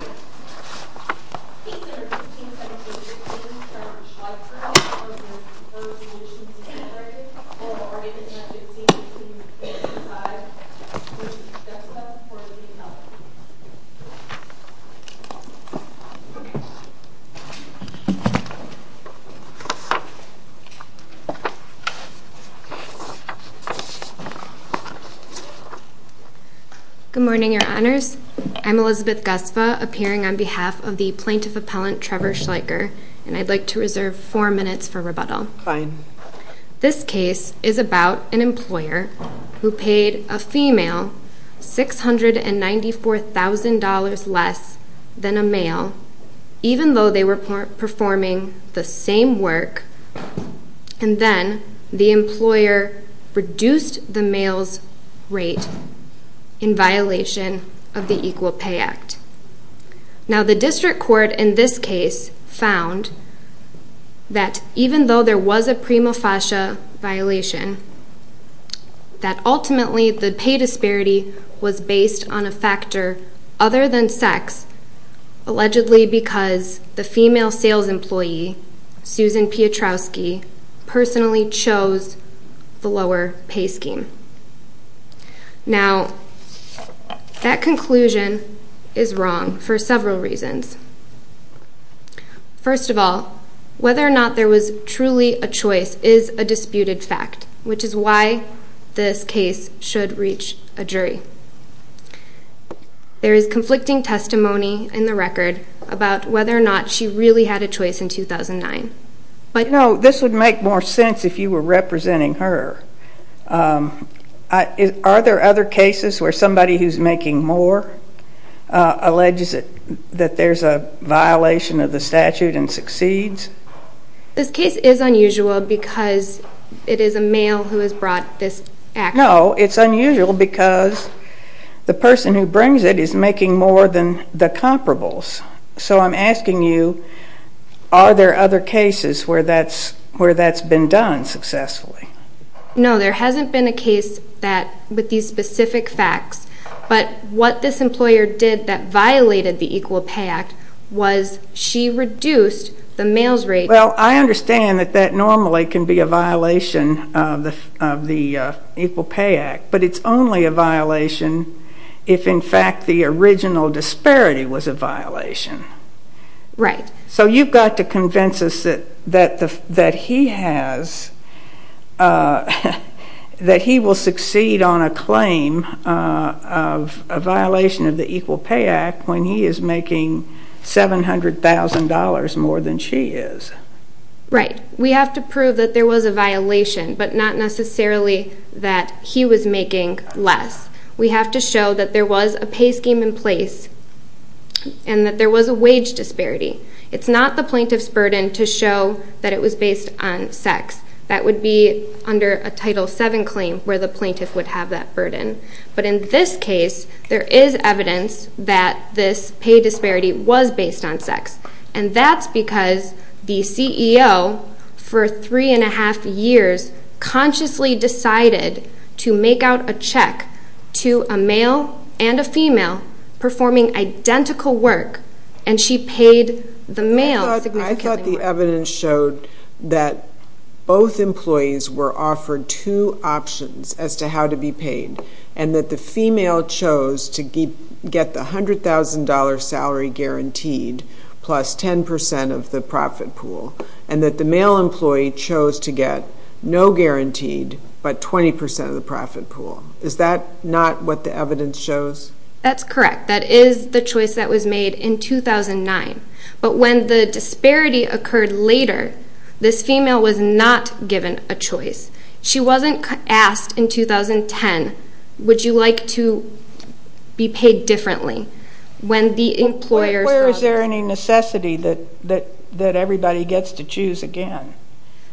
Or burning with nothing to see a sigh Elizabeth Gusfeh 419-L Good morning, your honors. I'm Elizabeth Gusfeh, Muhammadan hearing on behalf of the plaintiff appellant Trevor Schleicher and I'd like to reserve four minutes for rebuttal. This case is about an employer who paid a female $694,000 less than a male even though they were performing the same work and then the employer reduced the male's rate in Now the district court in this case found that even though there was a prima facie violation that ultimately the pay disparity was based on a factor other than sex allegedly because the female sales employee Susan Piotrowski personally chose the lower pay scheme. Now that conclusion is wrong for several reasons. First of all whether or not there was truly a choice is a disputed fact which is why this case should reach a jury. There is conflicting testimony in the record about whether or not she really had a choice in 2009 but no this would make more sense if you were representing her. Are there other cases where somebody who's making more alleges that there's a violation of the statute and succeeds? This case is unusual because it is a male who has brought this action. No it's unusual because the person who brings it is making more than the where that's been done successfully. No there hasn't been a case that with these specific facts but what this employer did that violated the Equal Pay Act was she reduced the male's rate. Well I understand that that normally can be a violation of the Equal Pay Act but it's only a violation if in fact the original has that he will succeed on a claim of a violation of the Equal Pay Act when he is making $700,000 more than she is. Right we have to prove that there was a violation but not necessarily that he was making less. We have to show that there was a pay scheme in place and that there was a wage disparity. It's not the sex that would be under a Title VII claim where the plaintiff would have that burden but in this case there is evidence that this pay disparity was based on sex and that's because the CEO for three and a half years consciously decided to make out a check to a male and a female performing identical work and she paid the male. I thought the evidence showed that both employees were offered two options as to how to be paid and that the female chose to keep get the hundred thousand dollar salary guaranteed plus ten percent of the profit pool and that the male employee chose to get no guaranteed but twenty percent of the profit pool. Is that not what the evidence shows? That's correct that is the choice that was made in 2009 but when the disparity occurred later this female was not given a choice. She wasn't asked in 2010 would you like to be paid differently when the employer... Where is there any necessity that that everybody gets to choose again?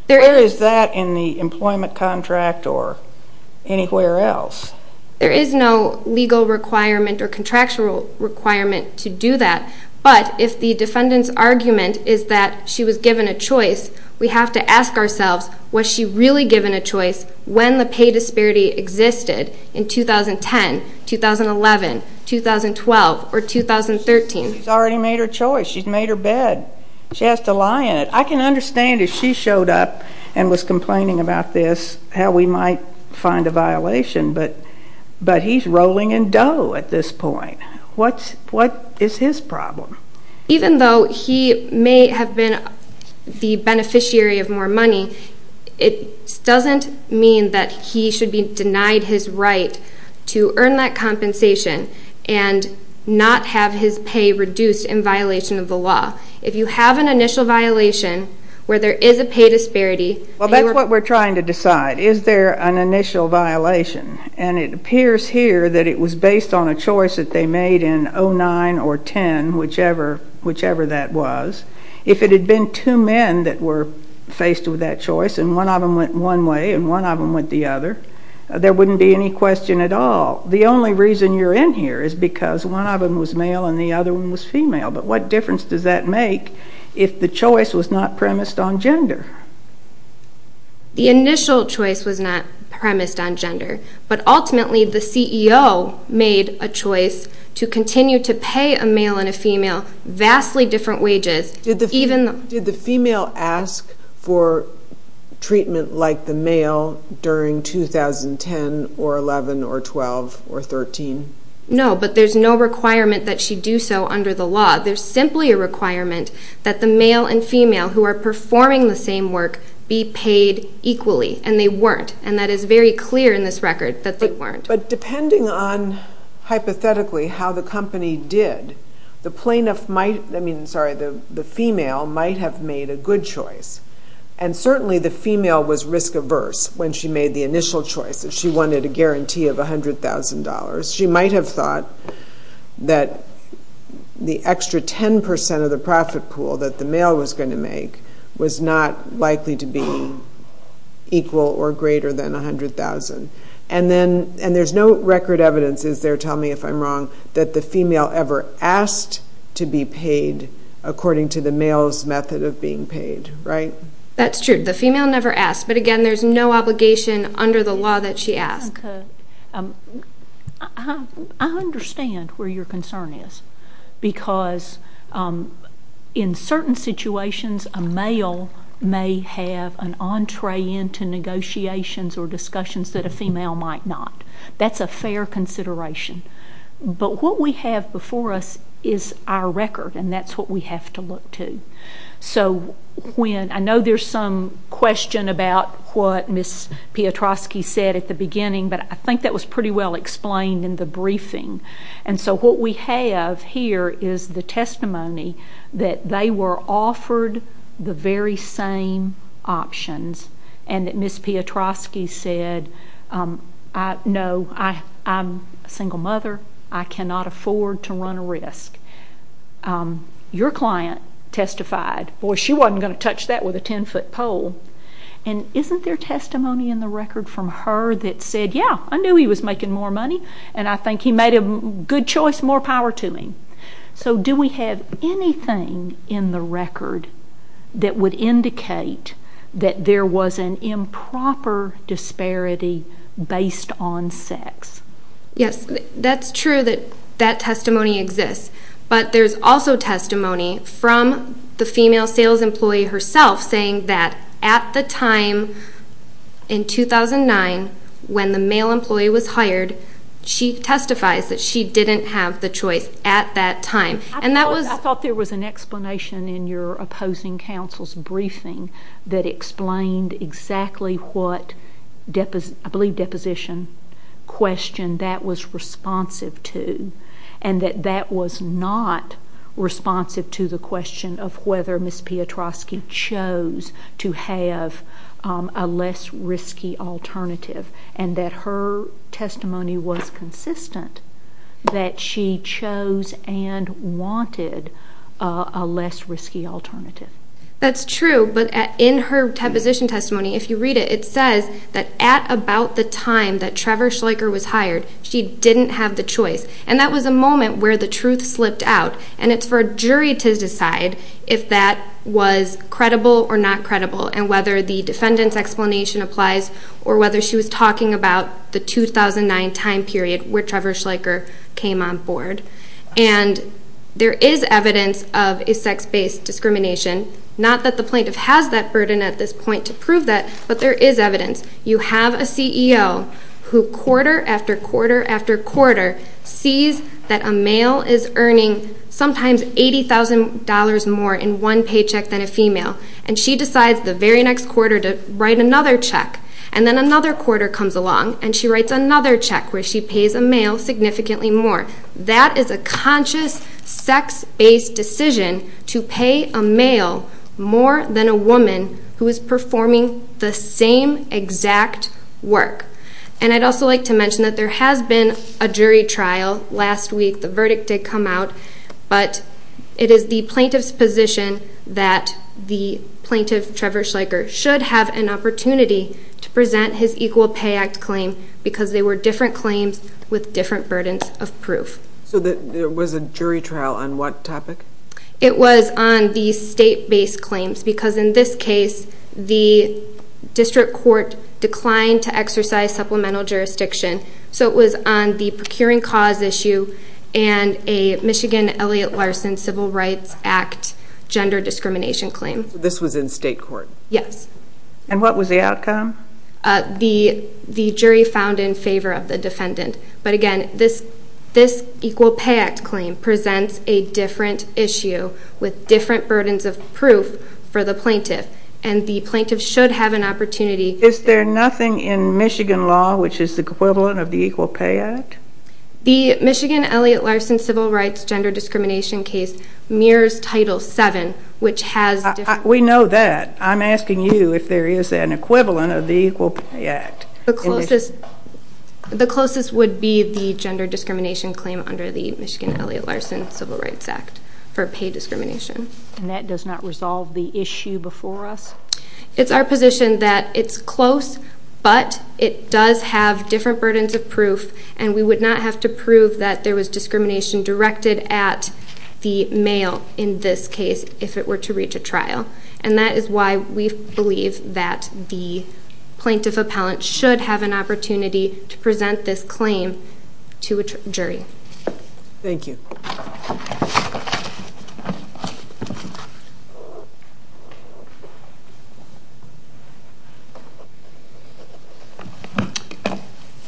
There is that in the employment contract or anywhere else. There is no legal requirement or contractual requirement to do that but if the defendant's argument is that she was given a choice we have to ask ourselves was she really given a choice when the pay disparity existed in 2010, 2011, 2012 or 2013. She's already made her choice, she's made her bed. She has to lie in it. I can we might find a violation but but he's rolling in dough at this point. What's what is his problem? Even though he may have been the beneficiary of more money it doesn't mean that he should be denied his right to earn that compensation and not have his pay reduced in violation of the law. If you have an initial violation where there is a pay disparity... Well that's what we're trying to decide. Is there an initial violation and it appears here that it was based on a choice that they made in 2009 or 2010 whichever whichever that was. If it had been two men that were faced with that choice and one of them went one way and one of them went the other there wouldn't be any question at all. The only reason you're in here is because one of them was male and the other one was female but what difference does that make if the choice was not premised on gender? The initial choice was not premised on gender but ultimately the CEO made a choice to continue to pay a male and a female vastly different wages. Did the female ask for treatment like the male during 2010 or 11 or 12 or 13? No but there's no requirement that the male and female who are performing the same work be paid equally and they weren't and that is very clear in this record that they weren't. But depending on hypothetically how the company did the plaintiff might I mean sorry the the female might have made a good choice and certainly the female was risk-averse when she made the initial choice if she wanted a guarantee of $100,000 she might have thought that the extra 10% of the profit pool that the male was going to make was not likely to be equal or greater than a hundred thousand and then and there's no record evidence is there tell me if I'm wrong that the female ever asked to be paid according to the male's method of being paid right? That's true the female never asked but again there's no obligation under the law that she asked. I understand where your concern is because in certain situations a male may have an entree into negotiations or discussions that a female might not. That's a fair consideration but what we have before us is our record and that's what we have to look to. So when I know there's some question about what Miss Piotrowski said at the beginning but I think that was pretty well explained in the briefing and so what we have here is the testimony that they were offered the very same options and that Miss Piotrowski said no I'm a single mother I cannot afford to run a risk. Your client testified well she wasn't going to touch that with a 10-foot pole and isn't there testimony in the record from her that said yeah I knew he was making more money and I think he made a good choice more power to me. So do we have anything in the record that would indicate that there was an improper disparity based on sex? Yes that's true that that testimony exists but there's also testimony from the female sales employee herself saying that at the time in 2009 when the male employee was hired she testifies that she didn't have the choice at that time and that was. I thought there was an explanation in your opposing counsel's briefing that explained exactly what I believe deposition question that was responsive to and that that was not responsive to the question of whether Miss Piotrowski chose to have a less risky alternative and that her testimony was consistent that she chose and wanted a less risky alternative. That's true but in her deposition testimony if you read it it says that at about the time that she didn't have the choice and that was a moment where the truth slipped out and it's for a jury to decide if that was credible or not credible and whether the defendant's explanation applies or whether she was talking about the 2009 time period where Trevor Schleicher came on board and there is evidence of a sex based discrimination not that the plaintiff has that burden at this point to prove that but there is evidence you have a CEO who quarter after quarter after quarter sees that a male is earning sometimes $80,000 more in one paycheck than a female and she decides the very next quarter to write another check and then another quarter comes along and she writes another check where she pays a male significantly more. That is a conscious sex based decision to pay a male more than a woman who is performing the same exact work and I'd also like to mention that there has been a jury trial last week the verdict did come out but it is the plaintiff's position that the plaintiff Trevor Schleicher should have an opportunity to present his Equal Pay Act claim because they were different claims with different burdens of proof. So there was a jury trial on what topic? It was on the state based claims because in this case the So it was on the procuring cause issue and a Michigan Elliott Larson Civil Rights Act gender discrimination claim. This was in state court? Yes. And what was the outcome? The jury found in favor of the defendant but again this Equal Pay Act claim presents a different issue with different burdens of proof for the plaintiff and the plaintiff should have an opportunity. Is there nothing in Michigan law which is the equivalent of the Equal Pay Act? The Michigan Elliott Larson Civil Rights gender discrimination case mirrors Title 7 which has... We know that. I'm asking you if there is an equivalent of the Equal Pay Act. The closest would be the gender discrimination claim under the Michigan Elliott Larson Civil Rights Act for pay discrimination. And that does not But it does have different burdens of proof and we would not have to prove that there was discrimination directed at the male in this case if it were to reach a trial. And that is why we believe that the plaintiff appellant should have an opportunity to present this claim to a jury. Thank you.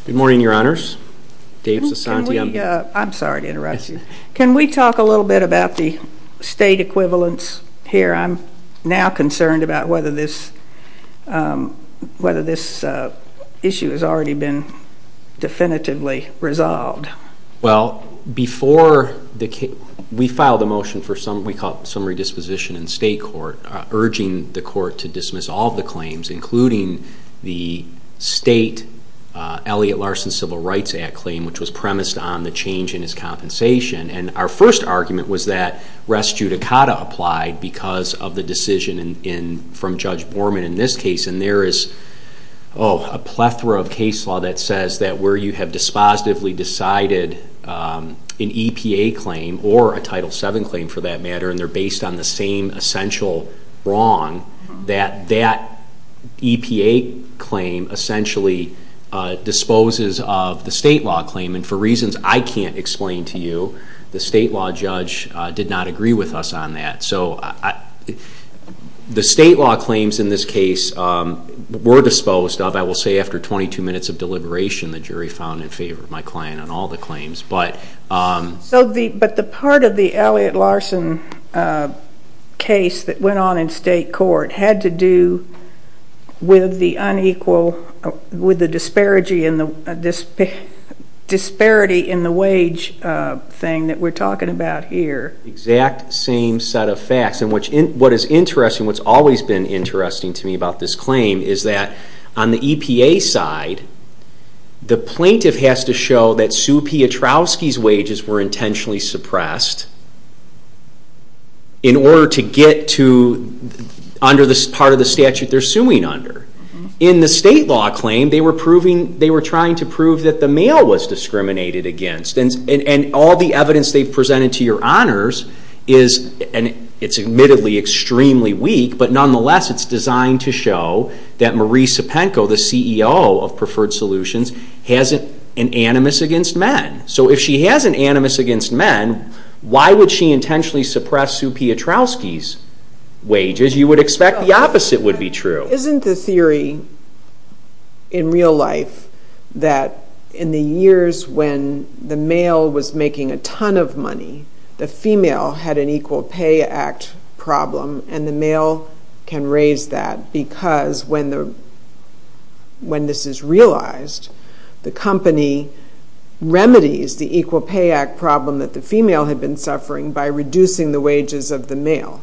Good morning, Your Honors. Dave Sasanti. I'm sorry to interrupt you. Can we talk a little bit about the state equivalence here? I'm now concerned about whether this issue has already been definitively resolved. Well, before the case... We filed a motion for some... We call it summary disposition in state court urging the court to dismiss all the claims including the state Elliott Larson Civil Rights Act claim, which was premised on the change in his compensation. And our first argument was that rest judicata applied because of the decision from Judge Borman in this case. And there is a plethora of case law that says that where you have dispositively decided an EPA claim or a Title VII claim for that matter, and they're based on the same essential wrong, that that EPA claim essentially disposes of the state law claim. And for reasons I can't explain to you, the state law judge did not agree with us on that. So the state law claims in this case were disposed of, I will say, after 22 minutes of deliberation. The jury found in favor of my client on all the claims. But the part of the Elliott Larson case that went on in state court had to do with the unequal... With the disparity in the wage thing that we're talking about here. Exact same set of facts. And what is interesting, what's always been interesting to me about this claim is that on the EPA side, the plaintiff has to show that Sue Piotrowski's wages were intentionally suppressed in order to get to under this part of the statute they're suing under. In the state law claim, they were proving... They were trying to prove that the male was discriminated against. And all the evidence they've presented to your honor is... And it's admittedly extremely weak, but nonetheless, it's designed to show that Marisa Penko, the CEO of Preferred Solutions, has an animus against men. So if she has an animus against men, why would she intentionally suppress Sue Piotrowski's wages? You would expect the opposite would be true. Now, isn't the theory in real life that in the years when the male was making a ton of money, the female had an Equal Pay Act problem, and the male can raise that because when this is realized, the company remedies the Equal Pay Act problem that the female had been suffering by reducing the wages of the male.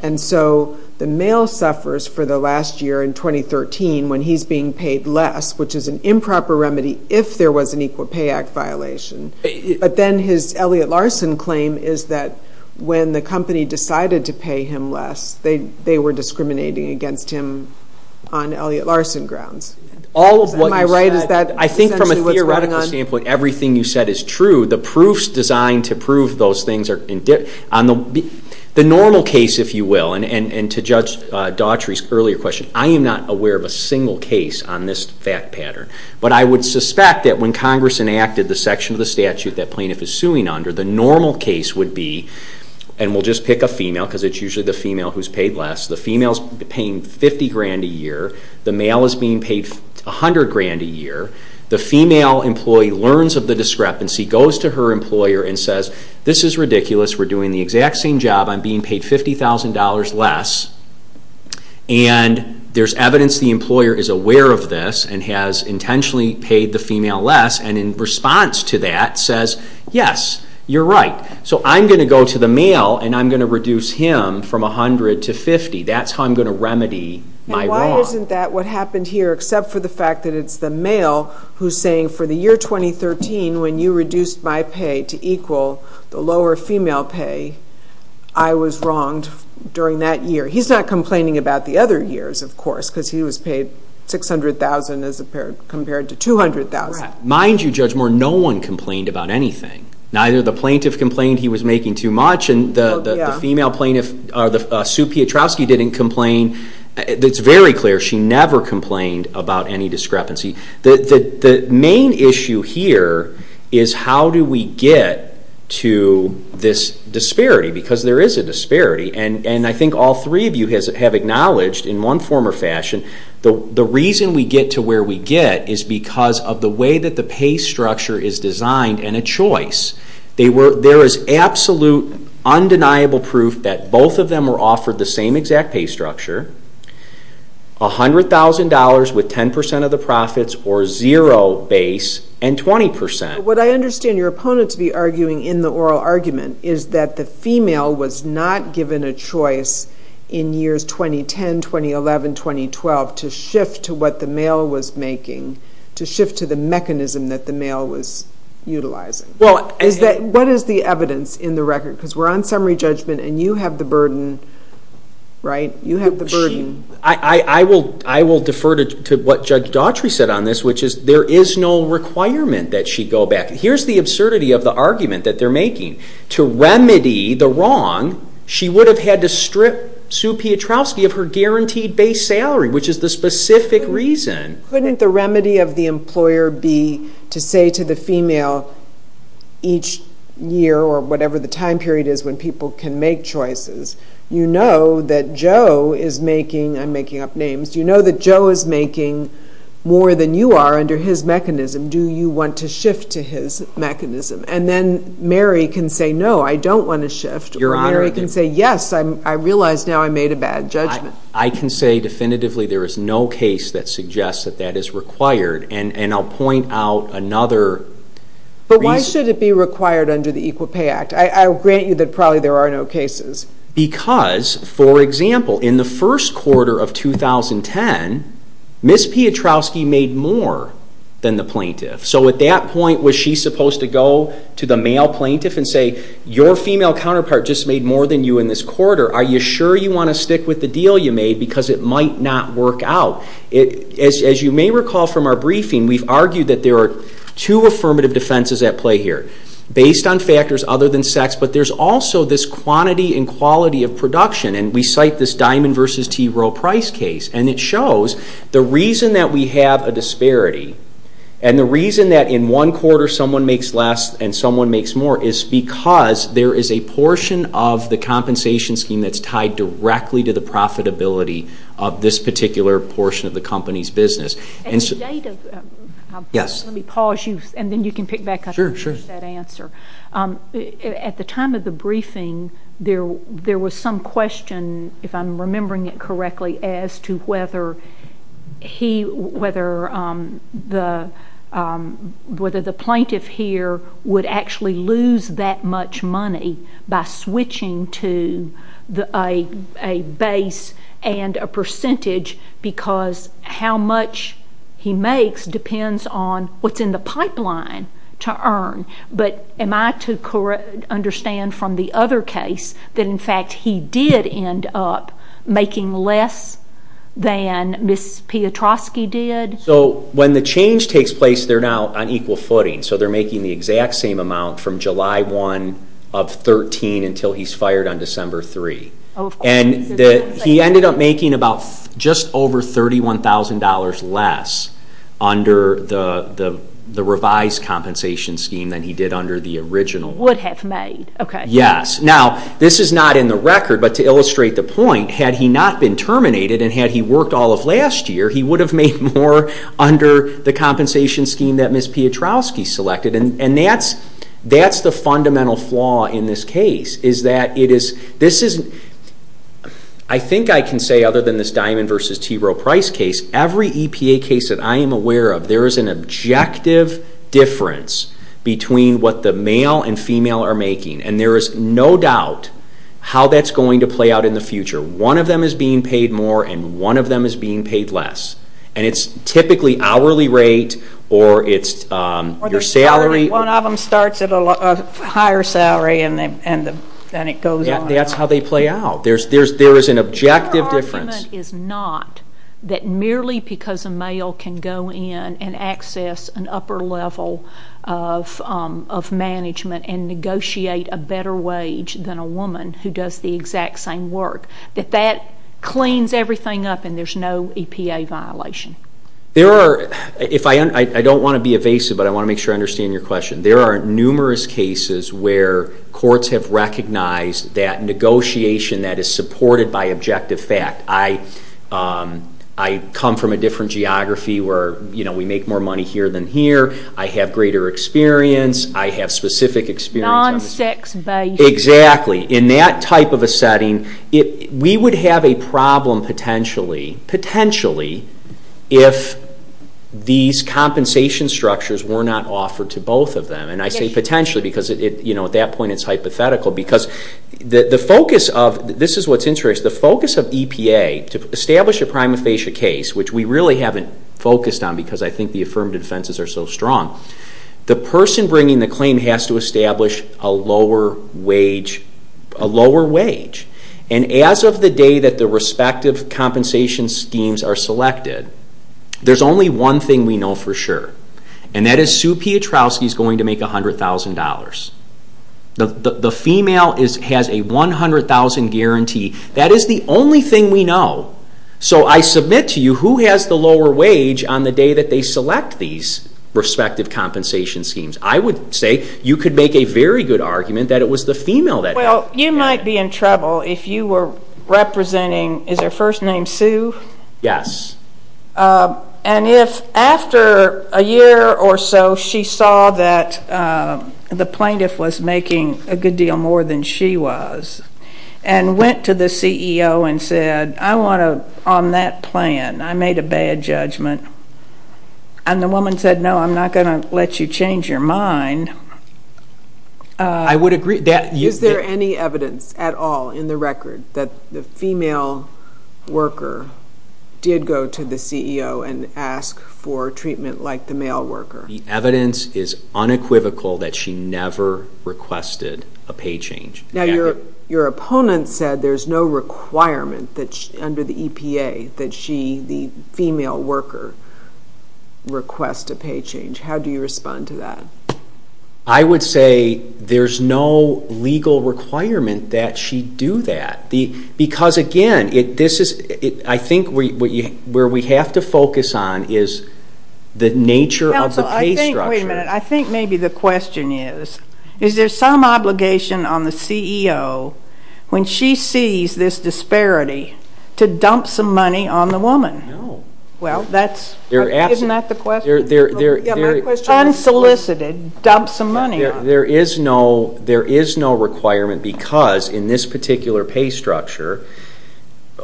And so the male suffers for the last year in 2013 when he's being paid less, which is an improper remedy if there was an Equal Pay Act violation. But then his Elliot Larson claim is that when the company decided to pay him less, they were discriminating against him on Elliot Larson grounds. Am I right? Is that essentially what's going on? Well, I think, for example, with everything you said is true, the proofs designed to prove those things are... The normal case, if you will, and to judge Daughtry's earlier question, I am not aware of a single case on this fact pattern. But I would suspect that when Congress enacted the section of the statute that plaintiff is suing under, the normal case would be, and we'll just pick a female, because it's usually the female who's paid less, the female's paying 50 grand a year, the male is being paid 100 grand a year, the female employs the discrepancy, learns of the discrepancy, goes to her employer and says, this is ridiculous, we're doing the exact same job, I'm being paid $50,000 less, and there's evidence the employer is aware of this and has intentionally paid the female less, and in response to that says, yes, you're right. So I'm going to go to the male and I'm going to reduce him from 100 to 50. That's how I'm going to remedy my wrongs. But isn't that what happened here, except for the fact that it's the male who's saying, for the year 2013, when you reduced my pay to equal the lower female pay, I was wronged during that year. He's not complaining about the other years, of course, because he was paid $600,000 as compared to $200,000. Mind you, Judge Moore, no one complained about anything. Neither the plaintiff complained he was making too much, and the female plaintiff, Sue Piotrowski, didn't complain. It's very clear she never complained about any discrepancy. The main issue here is how do we get to this disparity, because there is a disparity. And I think all three of you have acknowledged, in one form or fashion, the reason we get to where we get is because of the way that the pay structure is designed and a choice. There is absolute, undeniable proof that both of them were offered the same exact pay structure, $100,000 with 10% of the profits or zero base, and 20%. What I understand your opponent to be arguing in the oral argument is that the female was not given a choice in years 2010, 2011, 2012 to shift to what the male was making, to shift to the mechanism that the male was utilizing. What is the evidence in the record? Because we're on summary judgment, and you have the burden, right? I will defer to what Judge Daughtry said on this, which is there is no requirement that she go back. Here's the absurdity of the argument that they're making. To remedy the wrong, she would have had to strip Sue Piotrowski of her guaranteed base salary, which is the specific reason. Couldn't the remedy of the employer be to say to the female, each year or whatever the time period is when people can make choices, you know that Joe is making, I'm making up names, you know that Joe is making more than you are under his mechanism, do you want to shift to his mechanism? And then Mary can say, no, I don't want to shift, or Mary can say, yes, I realize now I made a bad judgment. I can say definitively there is no case that suggests that that is required, and I'll point out another reason. But why should it be required under the Equal Pay Act? I'll grant you that probably there are no cases. Because, for example, in the first quarter of 2010, Ms. Piotrowski made more than the plaintiff. So at that point, was she supposed to go to the male plaintiff and say, your female counterpart just made more than you in this quarter, are you sure you want to stick with the deal you made because it might not work out? As you may recall from our briefing, we've argued that there are two affirmative defenses at play here. Based on factors other than sex, but there's also this quantity and quality of production. And we cite this Diamond v. T. Rowe price case, and it shows the reason that we have a disparity and the reason that in one quarter someone makes less and someone makes more is because there is a portion of the compensation scheme that's tied directly to the profitability of this particular portion of the company's business. At the time of the briefing, there was some question, if I'm remembering it correctly, as to whether the plaintiff here would actually lose that much money by switching to a base and a percentage because how much he makes depends on what's in the pipeline to earn. But am I to understand from the other case that in fact he did end up making less than Ms. Piotrowski did? So when the change takes place, they're now on equal footing. So they're making the exact same amount from July 1 of 2013 until he's fired on December 3. And he ended up making just over $31,000 less under the revised compensation scheme than he did under the original one. Would have made. Yes. Now, this is not in the record, but to illustrate the point, had he not been terminated and had he worked all of last year, he would have made more under the compensation scheme that Ms. Piotrowski selected. And that's the fundamental flaw in this case. I think I can say other than this Diamond v. Tiro price case, every EPA case that I am aware of, there is an objective difference between what the male and female are making. And there is no doubt how that's going to play out in the future. One of them is being paid more and one of them is being paid less. And it's typically hourly rate or it's your salary. One of them starts at a higher salary and it goes up. That's how they play out. There is an objective difference. Our argument is not that merely because a male can go in and access an upper level of management and negotiate a better wage than a woman who does the exact same work, that that cleans everything up and there's no EPA violation. I don't want to be evasive, but I want to make sure I understand your question. There are numerous cases where courts have recognized that negotiation that is supported by objective fact. I come from a different geography where we make more money here than here. I have greater experience. I have specific experience. Non-sex based. Exactly. In that type of a setting, we would have a problem potentially if these compensation structures were not offered to both of them. And I say potentially because at that point it's hypothetical. This is what's interesting. The focus of EPA to establish a prima facie case, which we really haven't focused on because I think the affirmative defenses are so strong, the person bringing the claim has to establish a lower wage. And as of the day that the respective compensation schemes are selected, there's only one thing we know for sure. And that is Sue Pietrowski is going to make $100,000. The female has a $100,000 guarantee. That is the only thing we know. So I submit to you who has the lower wage on the day that they select these respective compensation schemes. I would say you could make a very good argument that it was the female that did it. Well, you might be in trouble if you were representing, is her first name Sue? Yes. And if after a year or so she saw that the plaintiff was making a good deal more than she was and went to the CEO and said, I want to, on that plan, I made a bad judgment, and the woman said, no, I'm not going to let you change your mind. I would agree. Is there any evidence at all in the record that the female worker did go to the CEO and ask for treatment like the male worker? The evidence is unequivocal that she never requested a pay change. Now, your opponent said there's no requirement under the EPA that she, the female worker, request a pay change. How do you respond to that? I would say there's no legal requirement that she do that. Because, again, I think where we have to focus on is the nature of the pay structure. Wait a minute. I think maybe the question is, is there some obligation on the CEO, when she sees this disparity, to dump some money on the woman? No. Well, isn't that the question? Unsolicited, dump some money on her. There is no requirement because in this particular pay structure,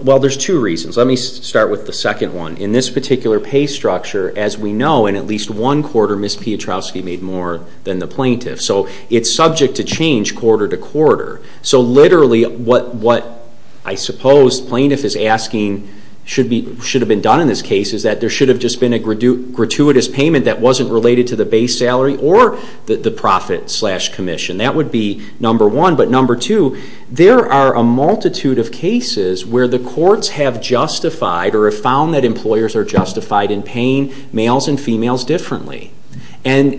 well, there's two reasons. Let me start with the second one. In this particular pay structure, as we know, in at least one quarter, Ms. Piotrowski made more than the plaintiff. So it's subject to change quarter to quarter. So literally what I suppose plaintiff is asking should have been done in this case is that there should have just been a gratuitous payment that wasn't related to the base salary or the profit slash commission. That would be number one. But number two, there are a multitude of cases where the courts have justified or have found that employers are justified in paying males and females differently. And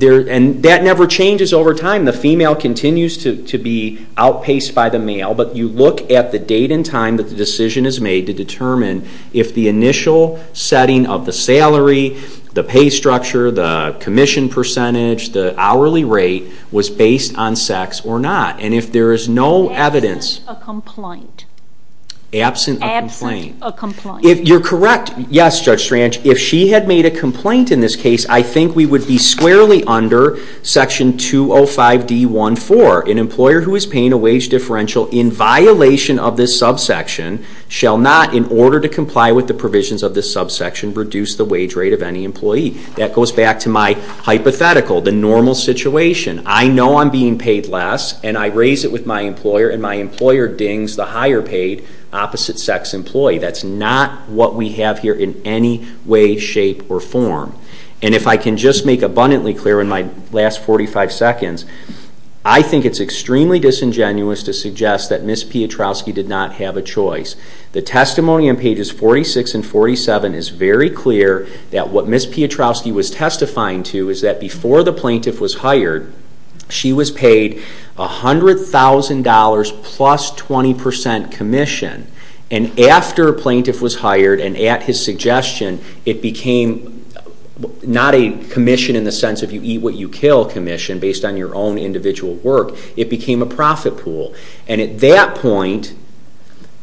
that never changes over time. The female continues to be outpaced by the male. But you look at the date and time that the decision is made to determine if the initial setting of the salary, the pay structure, the commission percentage, the hourly rate was based on sex or not. And if there is no evidence... Absent a complaint. Absent a complaint. Absent a complaint. You're correct. Yes, Judge Strange. If she had made a complaint in this case, I think we would be squarely under Section 205D14. An employer who is paying a wage differential in violation of this subsection shall not, in order to comply with the provisions of this subsection, reduce the wage rate of any employee. That goes back to my hypothetical, the normal situation. I know I'm being paid less, and I raise it with my employer, and my employer dings the higher paid opposite-sex employee. That's not what we have here in any way, shape, or form. And if I can just make abundantly clear in my last 45 seconds, I think it's extremely disingenuous to suggest that Ms. Piotrowski did not have a choice. The testimony on pages 46 and 47 is very clear that what Ms. Piotrowski was testifying to is that before the plaintiff was hired, she was paid $100,000 plus 20% commission. And after a plaintiff was hired, and at his suggestion, it became not a commission in the sense of you eat what you kill commission, based on your own individual work. It became a profit pool. And at that point,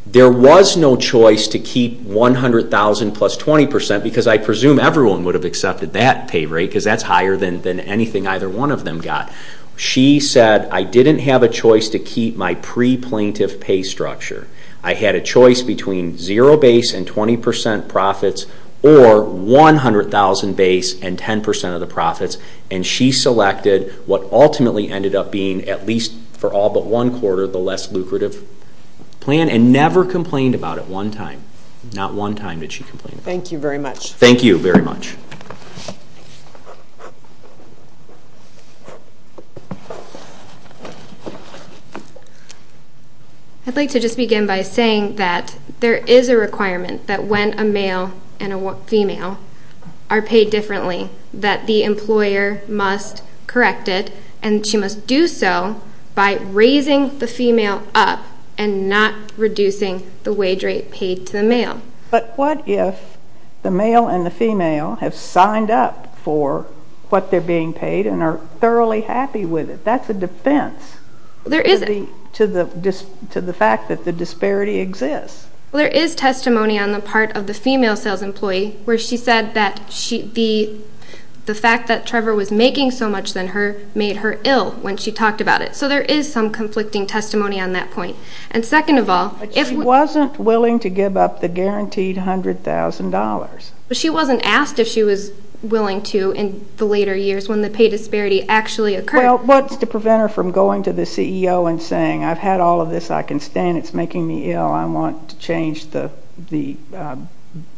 there was no choice to keep $100,000 plus 20%, because I presume everyone would have accepted that pay rate, because that's higher than anything either one of them got. She said, I didn't have a choice to keep my pre-plaintiff pay structure. I had a choice between zero base and 20% profits, or 100,000 base and 10% of the profits. And she selected what ultimately ended up being, at least for all but one quarter, the less lucrative plan, and never complained about it one time. Not one time did she complain. Thank you very much. Thank you very much. I'd like to just begin by saying that there is a requirement that when a male and a female are paid differently, that the employer must correct it. And she must do so by raising the female up and not reducing the wage rate paid to the male. But what if the male and the female have signed up for what they're being paid and are thoroughly happy with it? That's a defense to the fact that the disparity exists. Well, there is testimony on the part of the female sales employee where she said that the fact that Trevor was making so much than her made her ill when she talked about it. So there is some conflicting testimony on that point. But she wasn't willing to give up the guaranteed $100,000. But she wasn't asked if she was willing to in the later years when the pay disparity actually occurred. Well, what's to prevent her from going to the CEO and saying, I've had all of this, I can stand it, it's making me ill, I want to change the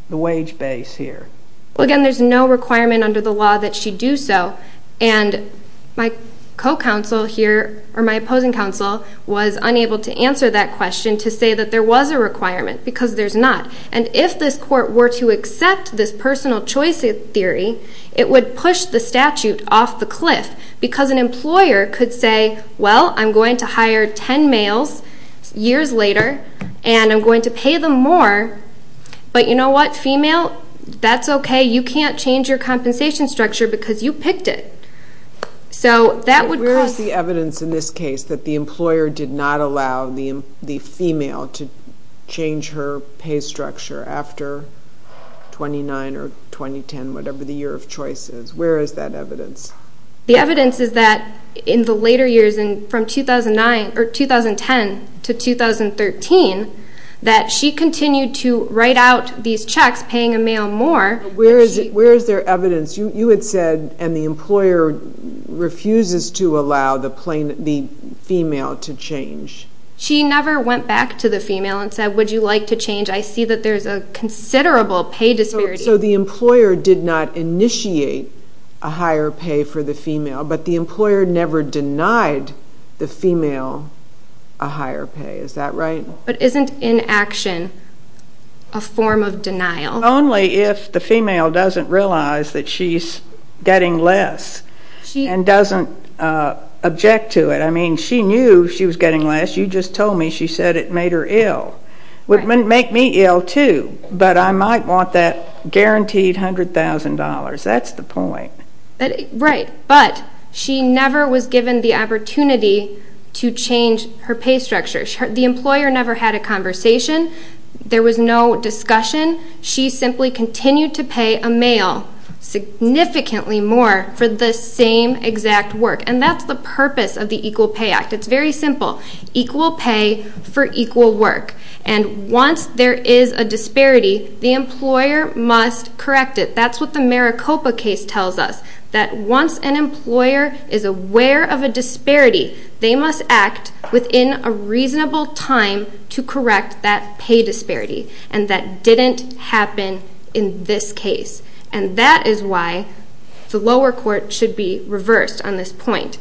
wage base here. Well, again, there's no requirement under the law that she do so. And my co-counsel here, or my opposing counsel, was unable to answer that question to say that there was a requirement because there's not. And if this court were to accept this personal choice theory, it would push the statute off the cliff. Because an employer could say, well, I'm going to hire 10 males years later and I'm going to pay them more. But you know what? Female, that's okay. You can't change your compensation structure because you picked it. So that would cause... Where is the evidence in this case that the employer did not allow the female to change her pay structure after 29 or 2010, whatever the year of choice is? Where is that evidence? The evidence is that in the later years, from 2009 or 2010 to 2013, that she continued to write out these checks, paying a male more. Where is there evidence? You had said, and the employer refuses to allow the female to change. She never went back to the female and said, would you like to change? I see that there's a considerable pay disparity. So the employer did not initiate a higher pay for the female, but the employer never denied the female a higher pay. Is that right? But isn't inaction a form of denial? Only if the female doesn't realize that she's getting less and doesn't object to it. I mean, she knew she was getting less. You just told me she said it made her ill. It would make me ill, too, but I might want that guaranteed $100,000. That's the point. Right, but she never was given the opportunity to change her pay structure. The employer never had a conversation. There was no discussion. She simply continued to pay a male significantly more for the same exact work, and that's the purpose of the Equal Pay Act. It's very simple. Equal pay for equal work. And once there is a disparity, the employer must correct it. That's what the Maricopa case tells us, that once an employer is aware of a disparity, they must act within a reasonable time to correct that pay disparity. And that didn't happen in this case. And that is why the lower court should be reversed on this point.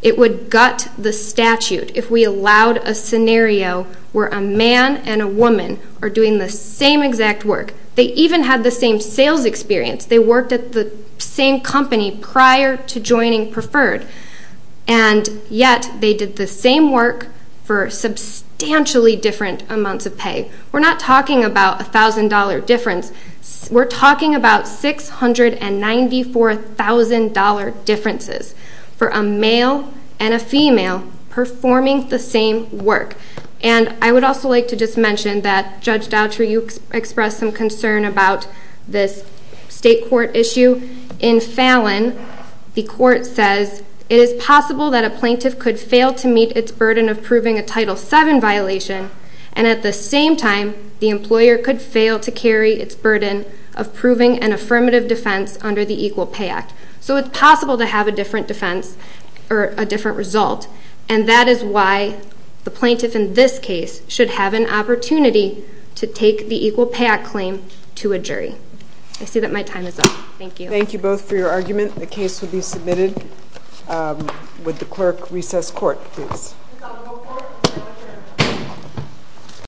It would gut the statute if we allowed a scenario where a man and a woman are doing the same exact work. They even had the same sales experience. They worked at the same company prior to joining Preferred, and yet they did the same work for substantially different amounts of pay. We're not talking about a $1,000 difference. We're talking about $694,000 differences for a male and a female performing the same work. And I would also like to just mention that, Judge Dautry, you expressed some concern about this state court issue. In Fallon, the court says, It is possible that a plaintiff could fail to meet its burden of proving a Title VII violation, and at the same time the employer could fail to carry its burden of proving an affirmative defense under the Equal Pay Act. So it's possible to have a different defense or a different result, and that is why the plaintiff in this case should have an opportunity to take the Equal Pay Act claim to a jury. I see that my time is up. Thank you. Thank you both for your argument. The case will be submitted with the clerk recess court, please.